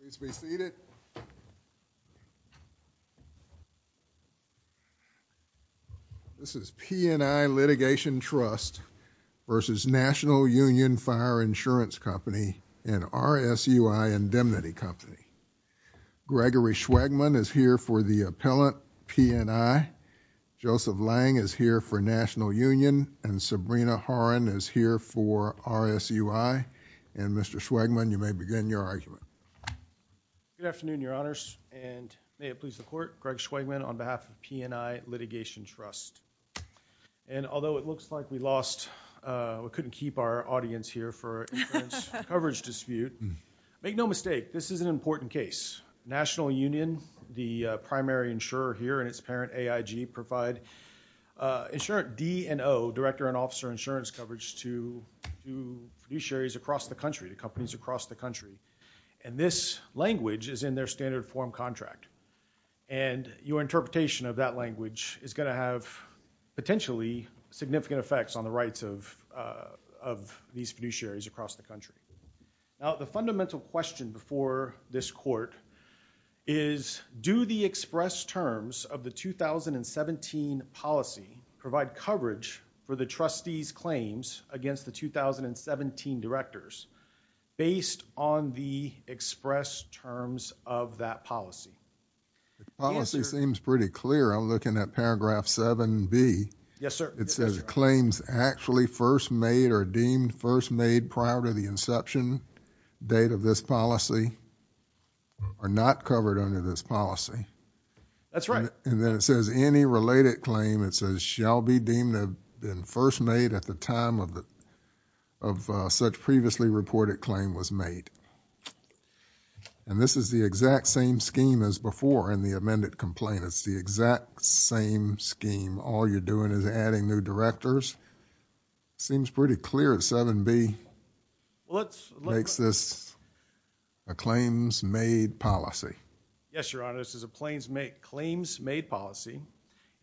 Please be seated. This is PNI Litigation Trust v. National Union Fire Insurance Company and RSUI Indemnity Company. Gregory Schwagman is here for the appellant PNI, Joseph Lang is here for National Union and Sabrina Horan is here for RSUI and Mr. Schwagman you may begin your argument. Good afternoon your honors and may it please the court, Greg Schwagman on behalf of PNI Litigation Trust and although it looks like we lost, we couldn't keep our audience here for coverage dispute, make no mistake this is an important case. National Union, the primary insurer here and its parent AIG provide insurant D and O, director and officer insurance coverage to fiduciaries across the country, to companies across the country and this language is in their standard form contract and your interpretation of that language is going to have potentially significant effects on the rights of these fiduciaries across the country. Now the fundamental question before this court is, do the express terms of the 2017 policy provide coverage for the trustees claims against the 2017 directors based on the express terms of that policy? The policy seems pretty clear, I'm looking at paragraph 7B, it says claims actually first made or deemed first made prior to the inception date of this policy are not covered under this policy. That's right. And then it says any related claim it says shall be deemed have been first made at the time of such previously reported claim was made and this is the exact same scheme as before in the amended complaint, it's the exact same scheme, all you're doing is adding new directors, it seems pretty clear that 7B makes this a claims made policy. Yes, your honor, this is a claims made policy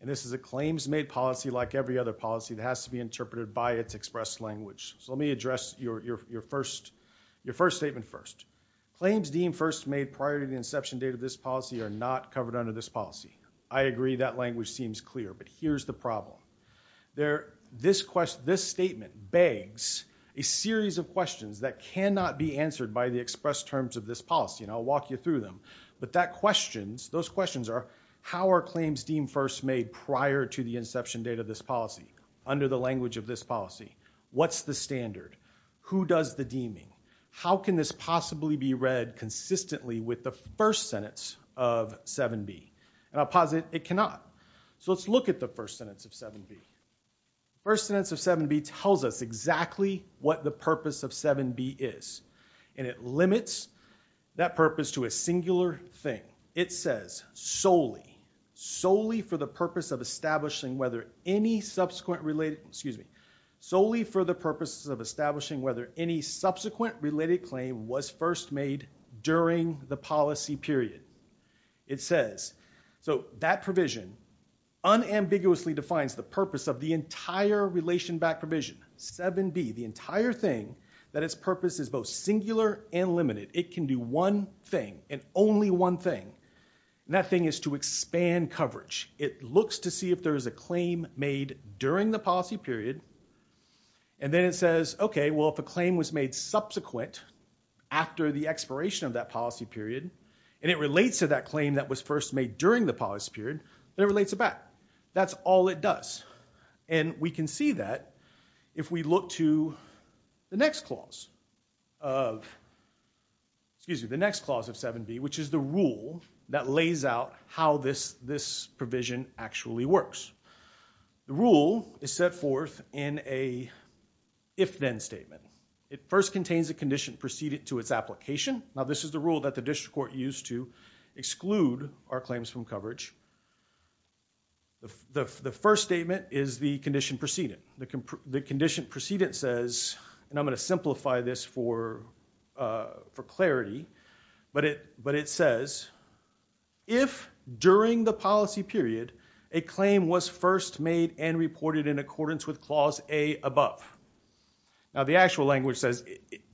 and this is a claims made policy like every other policy that has to be interpreted by its express language. So let me address your first statement first. Claims deemed first made prior to the inception date of this policy are not covered under this policy. I agree that language seems clear, but here's the problem. This statement begs a series of questions that cannot be answered by the express terms of this policy and I'll walk you through them, but those questions are how are claims deemed first made prior to the inception date of this policy? Under the language of this policy? What's the standard? Who does the deeming? How can this possibly be read consistently with the first sentence of 7B? And I'll posit it cannot. So let's look at the first sentence of 7B. First sentence of 7B tells us exactly what the purpose of 7B is and it limits that purpose to a singular thing. It says solely, solely for the purpose of establishing whether any subsequent related, excuse me, solely for the purposes of establishing whether any subsequent related claim was first made during the policy period. It says, so that provision unambiguously defines the purpose of the entire relation back provision, 7B, the entire thing that its purpose is both singular and limited. It can do one thing and only one thing and that thing is to expand coverage. It looks to see if there is a claim made during the policy period and then it says, okay, well, if a claim was made subsequent after the expiration of that policy period and it relates to that claim that was first made during the policy period, then it relates it back. That's all it does. And we can see that if we look to the next clause of, excuse me, the next clause of 7B, which is the rule that lays out how this provision actually works. The rule is set forth in a if-then statement. It first contains a condition preceded to its application. Now, this is the rule that the district court used to exclude our claims from coverage. The first statement is the condition preceded. The condition preceded says, and I'm going to simplify this for clarity, but it says, if during the policy period a claim was first made and reported in accordance with clause A above. Now, the actual language says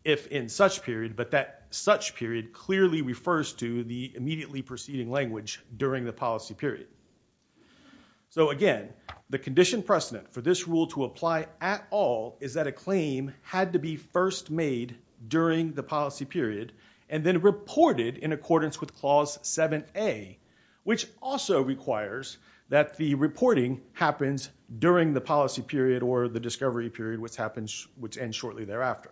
if in such period, but that such period clearly refers to the immediately preceding language during the policy period. So again, the condition precedent for this rule to apply at all is that a claim had to be first made during the policy period and then reported in accordance with clause 7A, which also requires that the reporting happens during the policy period or the discovery period, which ends shortly thereafter.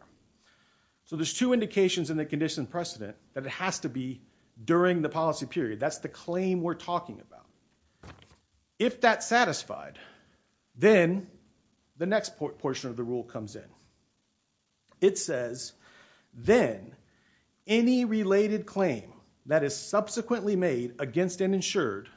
So there's two indications in the condition precedent that it has to be during the policy period. That's the claim we're talking about. If that's satisfied, then the next portion of the rule comes in. It says, then any related claim that is subsequently made against and insured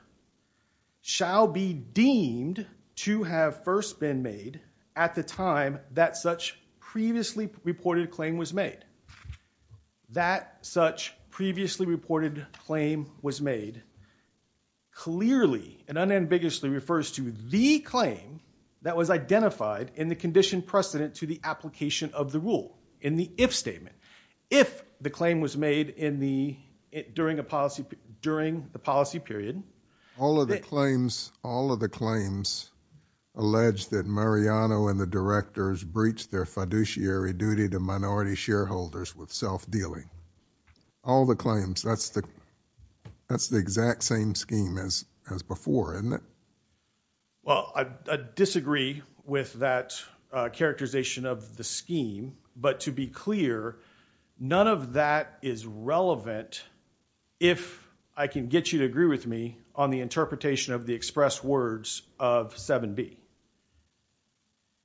shall be deemed to have first been made at the time that such previously reported claim was made. That such previously reported claim was made clearly and unambiguously refers to the claim that was identified in the condition precedent to the application of the rule. In the if statement. If the claim was made in the, during the policy period. All of the claims, all of the claims allege that Mariano and the directors breached their with self-dealing. All the claims, that's the exact same scheme as before, isn't it? Well, I disagree with that characterization of the scheme. But to be clear, none of that is relevant if I can get you to agree with me on the interpretation of the express words of 7B.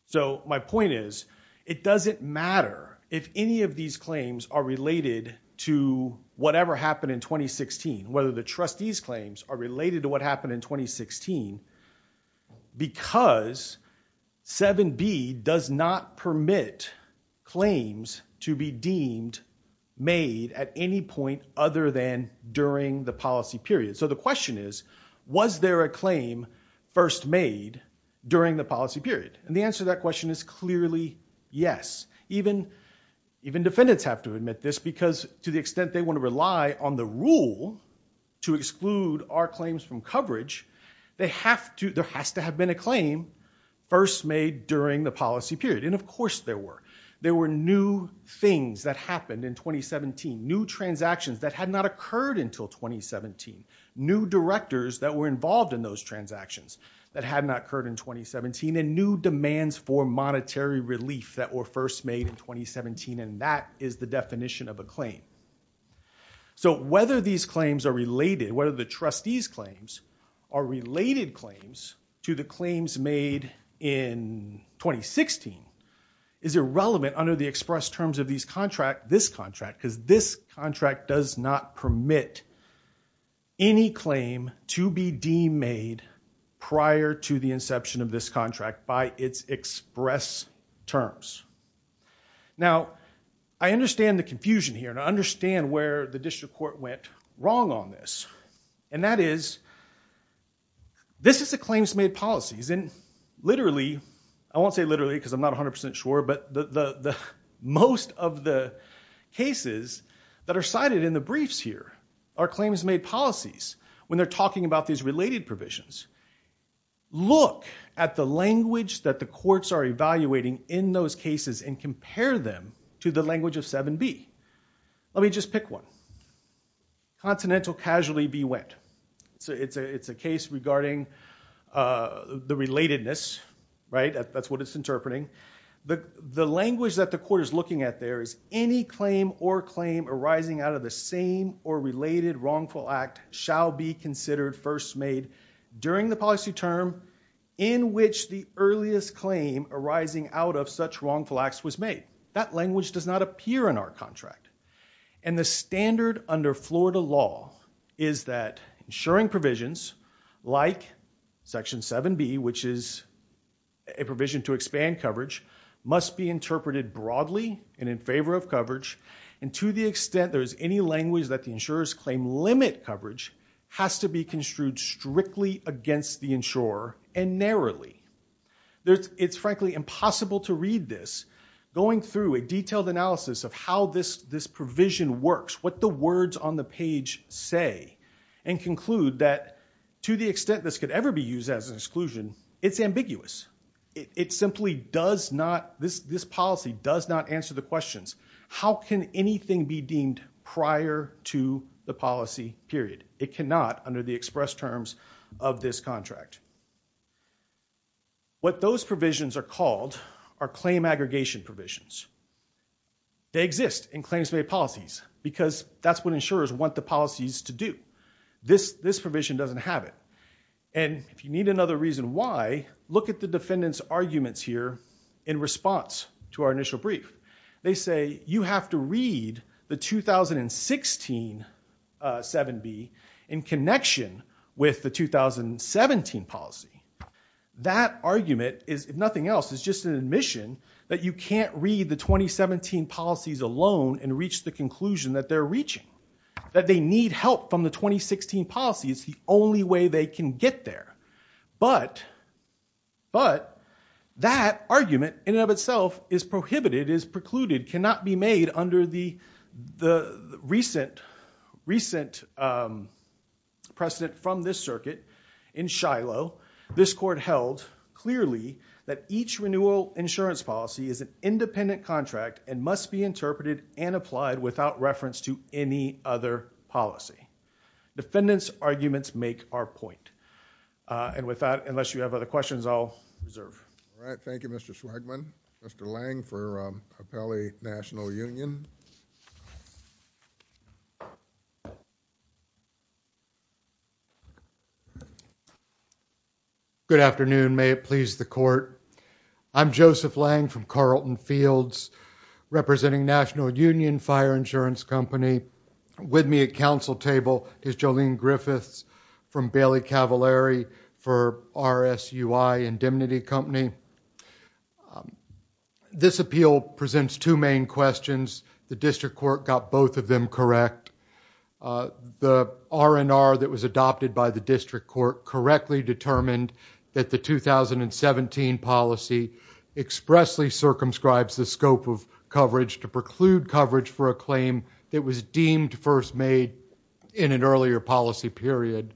So, my point is, it doesn't matter if any of these claims are related to whatever happened in 2016, whether the trustees claims are related to what happened in 2016, because 7B does not permit claims to be deemed made at any point other than during the policy period. So the question is, was there a claim first made during the policy period? And the answer to that question is clearly yes. Even defendants have to admit this because to the extent they want to rely on the rule to exclude our claims from coverage, there has to have been a claim first made during the policy period. And of course there were. There were new things that happened in 2017. New transactions that had not occurred until 2017. New directors that were involved in those transactions that had not occurred in 2017 and new demands for monetary relief that were first made in 2017 and that is the definition of a claim. So whether these claims are related, whether the trustees claims are related claims to the claims made in 2016, is irrelevant under the express terms of this contract because this contract does not permit any claim to be deemed made prior to the inception of this contract by its express terms. Now I understand the confusion here and I understand where the district court went wrong on this. And that is, this is a claims made policies and literally, I won't say literally because I'm not 100% sure, but most of the cases that are cited in the briefs here are claims made policies when they're talking about these related provisions. Look at the language that the courts are evaluating in those cases and compare them to the language of 7B. Let me just pick one. Continental casually bewent. It's a case regarding the relatedness, right? The language that the court is looking at there is any claim or claim arising out of the same or related wrongful act shall be considered first made during the policy term in which the earliest claim arising out of such wrongful acts was made. That language does not appear in our contract. And the standard under Florida law is that ensuring provisions like section 7B, which is a provision to expand coverage, must be interpreted broadly and in favor of coverage. And to the extent there is any language that the insurers claim limit coverage has to be construed strictly against the insurer and narrowly. It's frankly impossible to read this going through a detailed analysis of how this provision works, what the words on the page say, and conclude that to the extent this could ever be used as an exclusion, it's ambiguous. It simply does not, this policy does not answer the questions. How can anything be deemed prior to the policy period? It cannot under the express terms of this contract. What those provisions are called are claim aggregation provisions. They exist in claims made policies because that's what insurers want the policies to do. This provision doesn't have it. And if you need another reason why, look at the defendant's arguments here in response to our initial brief. They say you have to read the 2016 7B in connection with the 2017 policy. That argument is, if nothing else, is just an admission that you can't read the 2017 policies alone and reach the conclusion that they're reaching. That they need help from the 2016 policy. It's the only way they can get there. But that argument in and of itself is prohibited, is precluded, cannot be made under the recent precedent from this circuit in Shiloh. This court held clearly that each renewal insurance policy is an independent contract and must be interpreted and applied without reference to any other policy. Defendants' arguments make our point. And with that, unless you have other questions, I'll reserve. All right. Thank you, Mr. Swagman. Mr. Lange for Appellee National Union. Good afternoon. May it please the court. I'm Joseph Lange from Carlton Fields, representing National Union Fire Insurance Company. With me at council table is Jolene Griffiths from Bailey Cavallari for RSUI Indemnity Company. This appeal presents two main questions. The district court got both of them correct. The R&R that was adopted by the district court correctly determined that the 2017 policy expressly circumscribes the scope of coverage to preclude coverage for a claim that was deemed first made in an earlier policy period.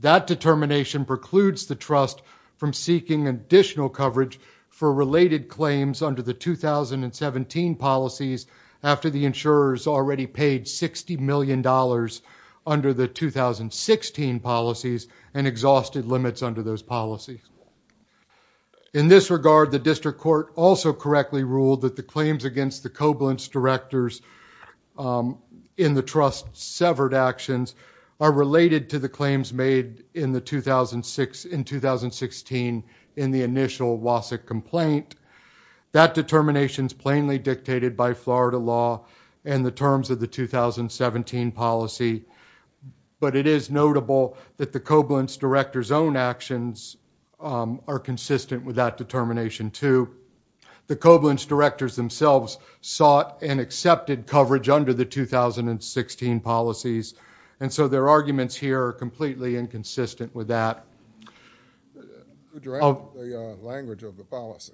That determination precludes the trust from seeking additional coverage for related claims under the 2017 policies after the insurers already paid $60 million under the 2016 policies and exhausted limits under those policies. In this regard, the district court also correctly ruled that the claims against the Koblentz directors in the trust severed actions are related to the claims made in 2016 in the initial Wasik complaint. That determination is plainly dictated by Florida law and the terms of the 2017 policy, but it is notable that the Koblentz director's own actions are consistent with that determination, too. The Koblentz directors themselves sought and accepted coverage under the 2016 policies, and so their arguments here are completely inconsistent with that. Who drafted the language of the policy?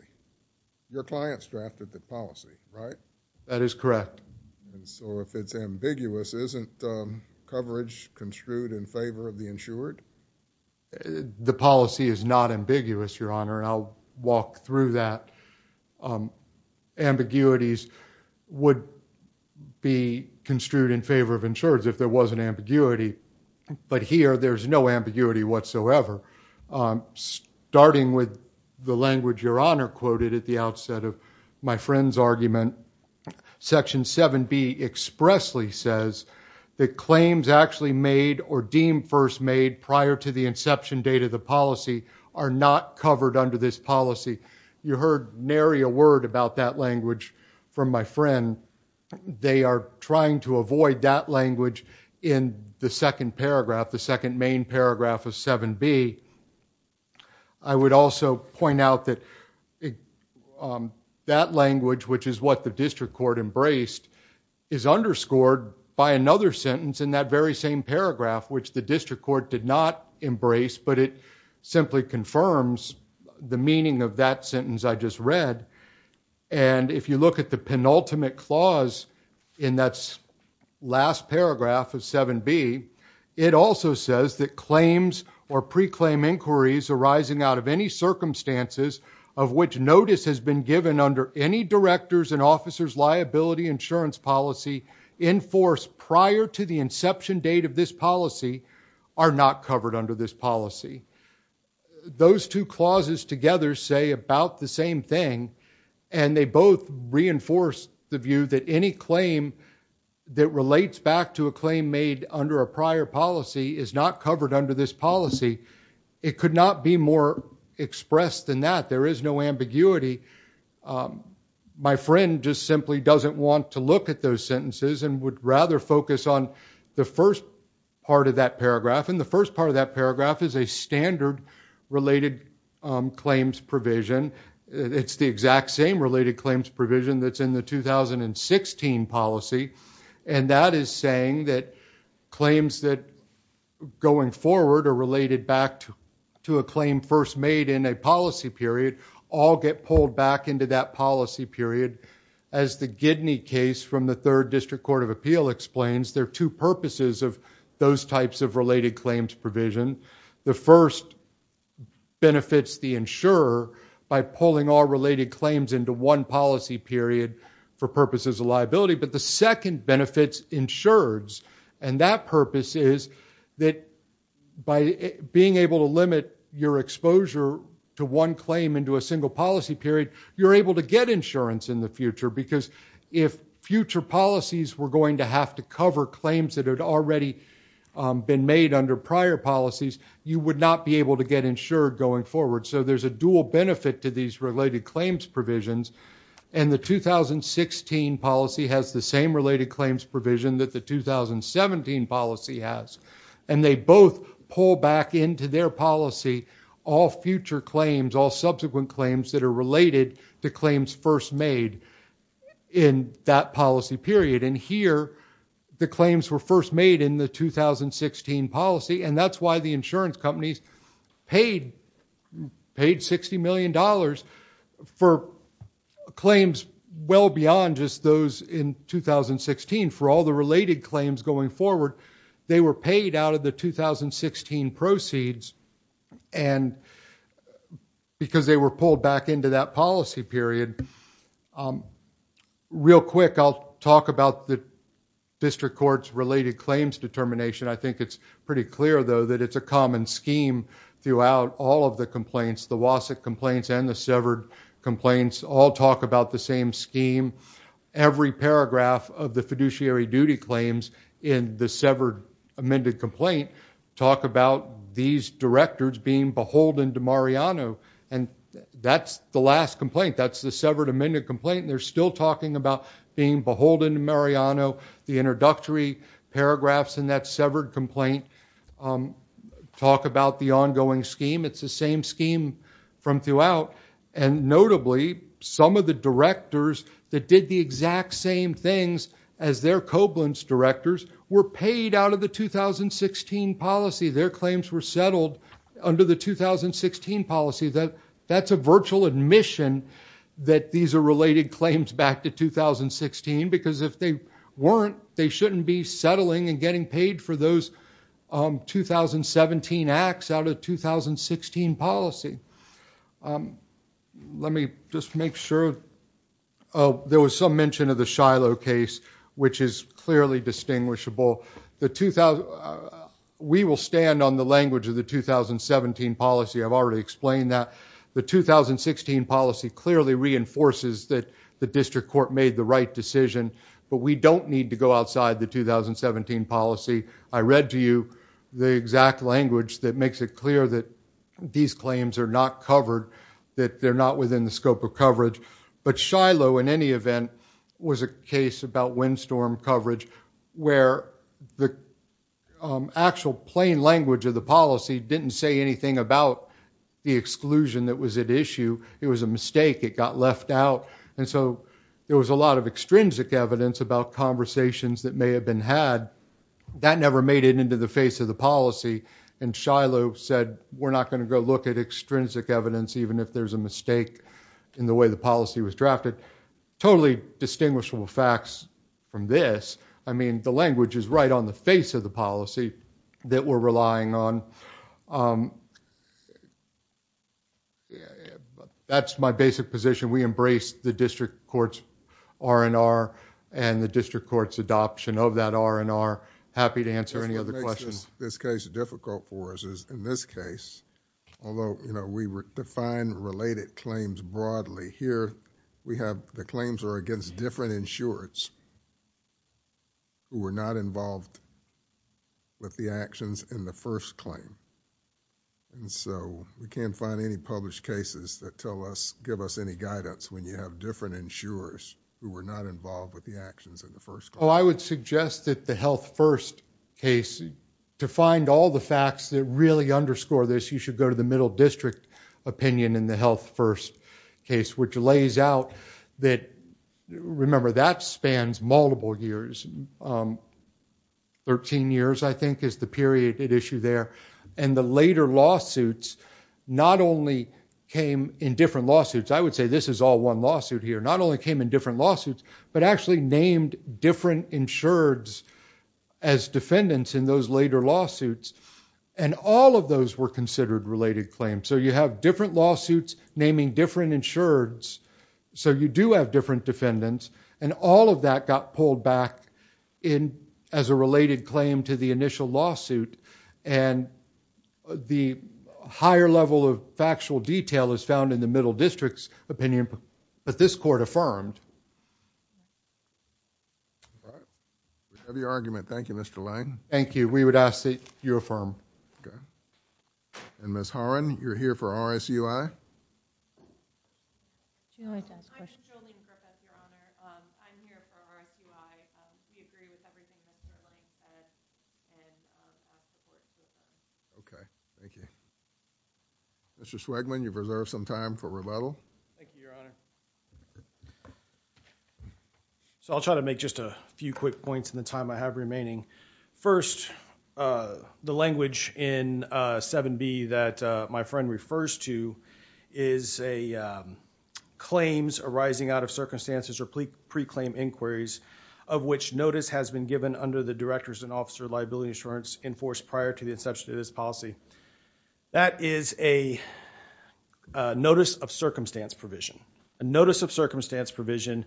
Your clients drafted the policy, right? That is correct. And so if it's ambiguous, isn't coverage construed in favor of the insured? The policy is not ambiguous, Your Honor, and I'll walk through that. Ambiguities would be construed in favor of insureds if there was an ambiguity, but here there's no ambiguity whatsoever. Starting with the language Your Honor quoted at the outset of my friend's argument, Section 7B expressly says that claims actually made or deemed first made prior to the inception date of the policy are not covered under this policy. You heard Nary a word about that language from my friend. They are trying to avoid that language in the second paragraph, the second main paragraph of 7B. I would also point out that that language, which is what the district court embraced, is underscored by another sentence in that very same paragraph, which the district court did not embrace, but it simply confirms the meaning of that sentence I just read. And if you look at the penultimate clause in that last paragraph of 7B, it also says that claims or pre-claim inquiries arising out of any circumstances of which notice has been given under any director's and officer's liability insurance policy enforced prior to the inception date of this policy are not covered under this policy. Those two clauses together say about the same thing, and they both reinforce the view that any claim that relates back to a claim made under a prior policy is not covered under this policy. It could not be more expressed than that. There is no ambiguity. My friend just simply doesn't want to look at those sentences and would rather focus on the first part of that paragraph, and the first part of that paragraph is a standard related claims provision. It's the exact same related claims provision that's in the 2016 policy, and that is saying that claims that, going forward, are related back to a claim first made in a policy period all get pulled back into that policy period. As the Gidney case from the Third District Court of Appeal explains, there are two purposes of those types of related claims provision. The first benefits the insurer by pulling all related claims into one policy period for purposes of liability, but the second benefits insurers, and that purpose is that by being able to limit your exposure to one claim into a single policy period, you're able to get insurance in the future because if future policies were going to have to cover claims that had already been made under prior policies, you would not be able to get insured going forward. So there's a dual benefit to these related claims provisions, and the 2016 policy has the same related claims provision that the 2017 policy has, and they both pull back into their policy all future claims, all subsequent claims that are related to claims first made in that policy period, and here the claims were first made in the 2016 policy, and that's why the insurance companies paid $60 million for claims well beyond just those in 2016 for all the related claims going forward. They were paid out of the 2016 proceeds, and because they were pulled back into that policy period. Real quick, I'll talk about the district court's related claims determination. I think it's pretty clear, though, that it's a common scheme throughout all of the complaints, the WASC complaints and the severed complaints all talk about the same scheme. Every paragraph of the fiduciary duty claims in the severed amended complaint talk about these directors being beholden to Mariano, and that's the last complaint. That's the severed amended complaint, and they're still talking about being beholden to Mariano. The introductory paragraphs in that severed complaint talk about the ongoing scheme. It's the same scheme from throughout, and notably, some of the directors that did the exact same things as their Koblentz directors were paid out of the 2016 policy. Their claims were settled under the 2016 policy. That's a virtual admission that these are related claims back to 2016, because if they weren't, they shouldn't be settling and getting paid for those 2017 acts out of the 2016 policy. Let me just make sure there was some mention of the Shiloh case, which is clearly distinguishable. We will stand on the language of the 2017 policy. I've already explained that. The 2016 policy clearly reinforces that the district court made the right decision, but we don't need to go outside the 2017 policy. I read to you the exact language that makes it clear that these claims are not covered, that they're not within the scope of coverage, but Shiloh, in any event, was a case about windstorm coverage, where the actual plain language of the policy didn't say anything about the exclusion that was at issue. It was a mistake. It got left out, and so there was a lot of extrinsic evidence about conversations that may have been had. That never made it into the face of the policy, and Shiloh said, we're not going to go look at extrinsic evidence, even if there's a mistake in the way the policy was drafted. Totally distinguishable facts from this, I mean, the language is right on the face of the policy that we're relying on. That's my basic position. We embrace the district court's R&R and the district court's adoption of that R&R. Happy to answer any other questions. The reason why this case is difficult for us is, in this case, although we define related claims broadly, here, the claims are against different insurers who were not involved with the actions in the first claim, and so we can't find any published cases that give us any guidance when you have different insurers who were not involved with the actions in the first claim. I would suggest that the Health First case, to find all the facts that really underscore this, you should go to the middle district opinion in the Health First case, which lays out that, remember, that spans multiple years. 13 years, I think, is the period at issue there, and the later lawsuits not only came in different lawsuits. I would say this is all one lawsuit here. Not only came in different lawsuits, but actually named different insureds as defendants in those later lawsuits, and all of those were considered related claims. So you have different lawsuits naming different insureds, so you do have different defendants, and all of that got pulled back in as a related claim to the initial lawsuit, and the higher level of factual detail is found in the middle district's opinion, but this court affirmed. All right. A heavy argument. Thank you, Mr. Lane. Thank you. We would ask that you affirm. Okay. And Ms. Horan, you're here for RSUI? Do you want me to ask a question? I'm Jolene Griffith, Your Honor. I'm here for RSUI. Thank you. Thank you. Thank you. Thank you. Thank you. Thank you. Thank you. Thank you. Thank you. Thank you. Thank you. Thank you. Thank you. Mr. Swigman, you have reserved some time for rebuttal. Thank you, Your Honor. So I'll try to make just a few quick points in the time I have remaining. First, the language in 7B that my friend refers to is claims arising out of circumstances or pre-claim inquiries, of which notice has been given under the director's and officer's liability insurance enforced prior to the inception of this policy. That is a Notice of Circumstance provision. A Notice of Circumstance provision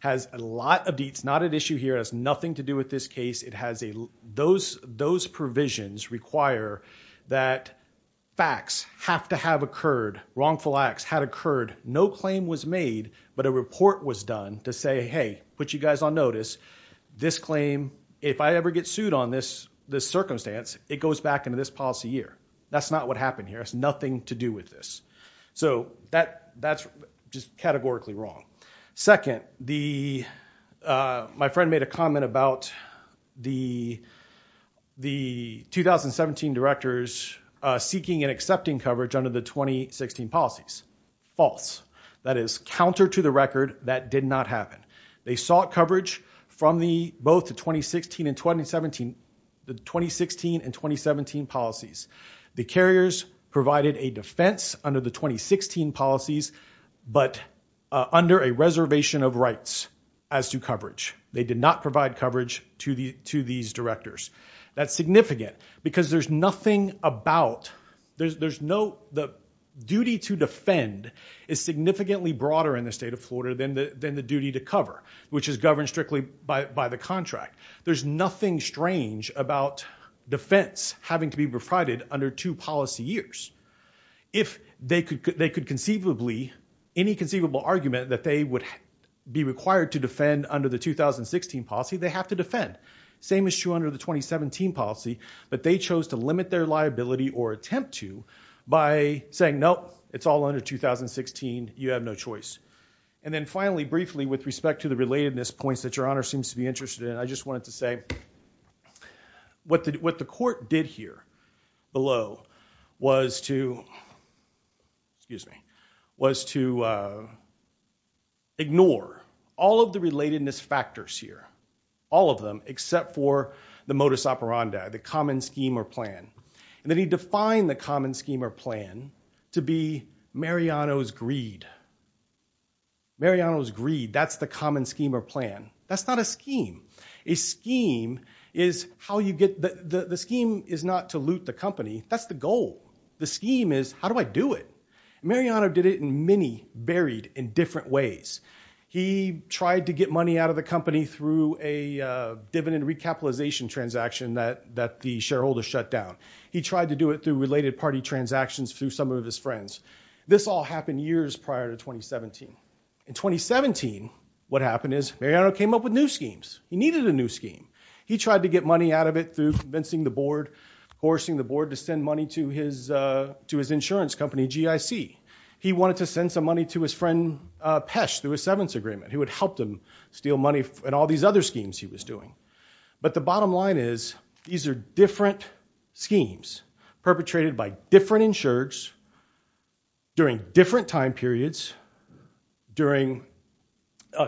has a lot of deets, not an issue here, it has nothing to do with this case. It has a... Those provisions require that facts have to have occurred, wrongful acts had occurred, no claim was made, but a report was done to say, hey, put you guys on notice. This claim, if I ever get sued on this circumstance, it goes back into this policy year. That's not what happened here. It has nothing to do with this. So that's just categorically wrong. Second, my friend made a comment about the 2017 directors seeking and accepting coverage under the 2016 policies. False. That is counter to the record, that did not happen. They sought coverage from both the 2016 and 2017 policies. The carriers provided a defense under the 2016 policies, but under a reservation of rights as to coverage. They did not provide coverage to these directors. That's significant, because there's nothing about... There's no... Which is governed strictly by the contract. There's nothing strange about defense having to be provided under two policy years. If they could conceivably, any conceivable argument that they would be required to defend under the 2016 policy, they have to defend. Same issue under the 2017 policy, but they chose to limit their liability or attempt to by saying, nope, it's all under 2016, you have no choice. And then finally, briefly, with respect to the relatedness points that your honor seems to be interested in, I just wanted to say, what the court did here, below, was to ignore all of the relatedness factors here, all of them, except for the modus operandi, the common scheme or plan. And then he defined the common scheme or plan to be Mariano's greed. Mariano's greed, that's the common scheme or plan. That's not a scheme. A scheme is how you get... The scheme is not to loot the company, that's the goal. The scheme is, how do I do it? Mariano did it in many varied and different ways. He tried to get money out of the company through a dividend recapitalization transaction that the shareholder shut down. He tried to do it through related party transactions through some of his friends. This all happened years prior to 2017. In 2017, what happened is, Mariano came up with new schemes. He needed a new scheme. He tried to get money out of it through convincing the board, forcing the board to send money to his insurance company, GIC. He wanted to send some money to his friend, Pesh, through a severance agreement, who had helped him steal money in all these other schemes he was doing. But the bottom line is, these are different schemes, perpetrated by different insurers, during different time periods,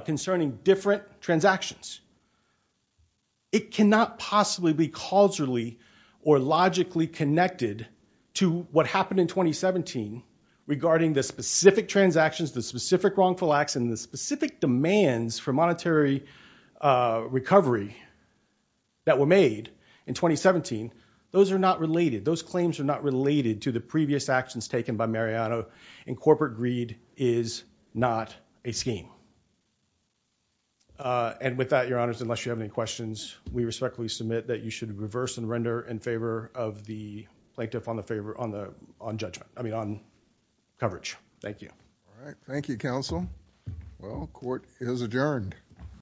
concerning different transactions. It cannot possibly be causally or logically connected to what happened in 2017 regarding the specific transactions, the specific wrongful acts, and the specific demands for monetary recovery that were made in 2017. Those are not related. Those claims are not related to the previous actions taken by Mariano, and corporate greed is not a scheme. And with that, Your Honors, unless you have any questions, we respectfully submit that you should reverse and render in favor of the plaintiff on the judgment, I mean on coverage. Thank you. All right. Thank you, Counsel. Well, court is adjourned.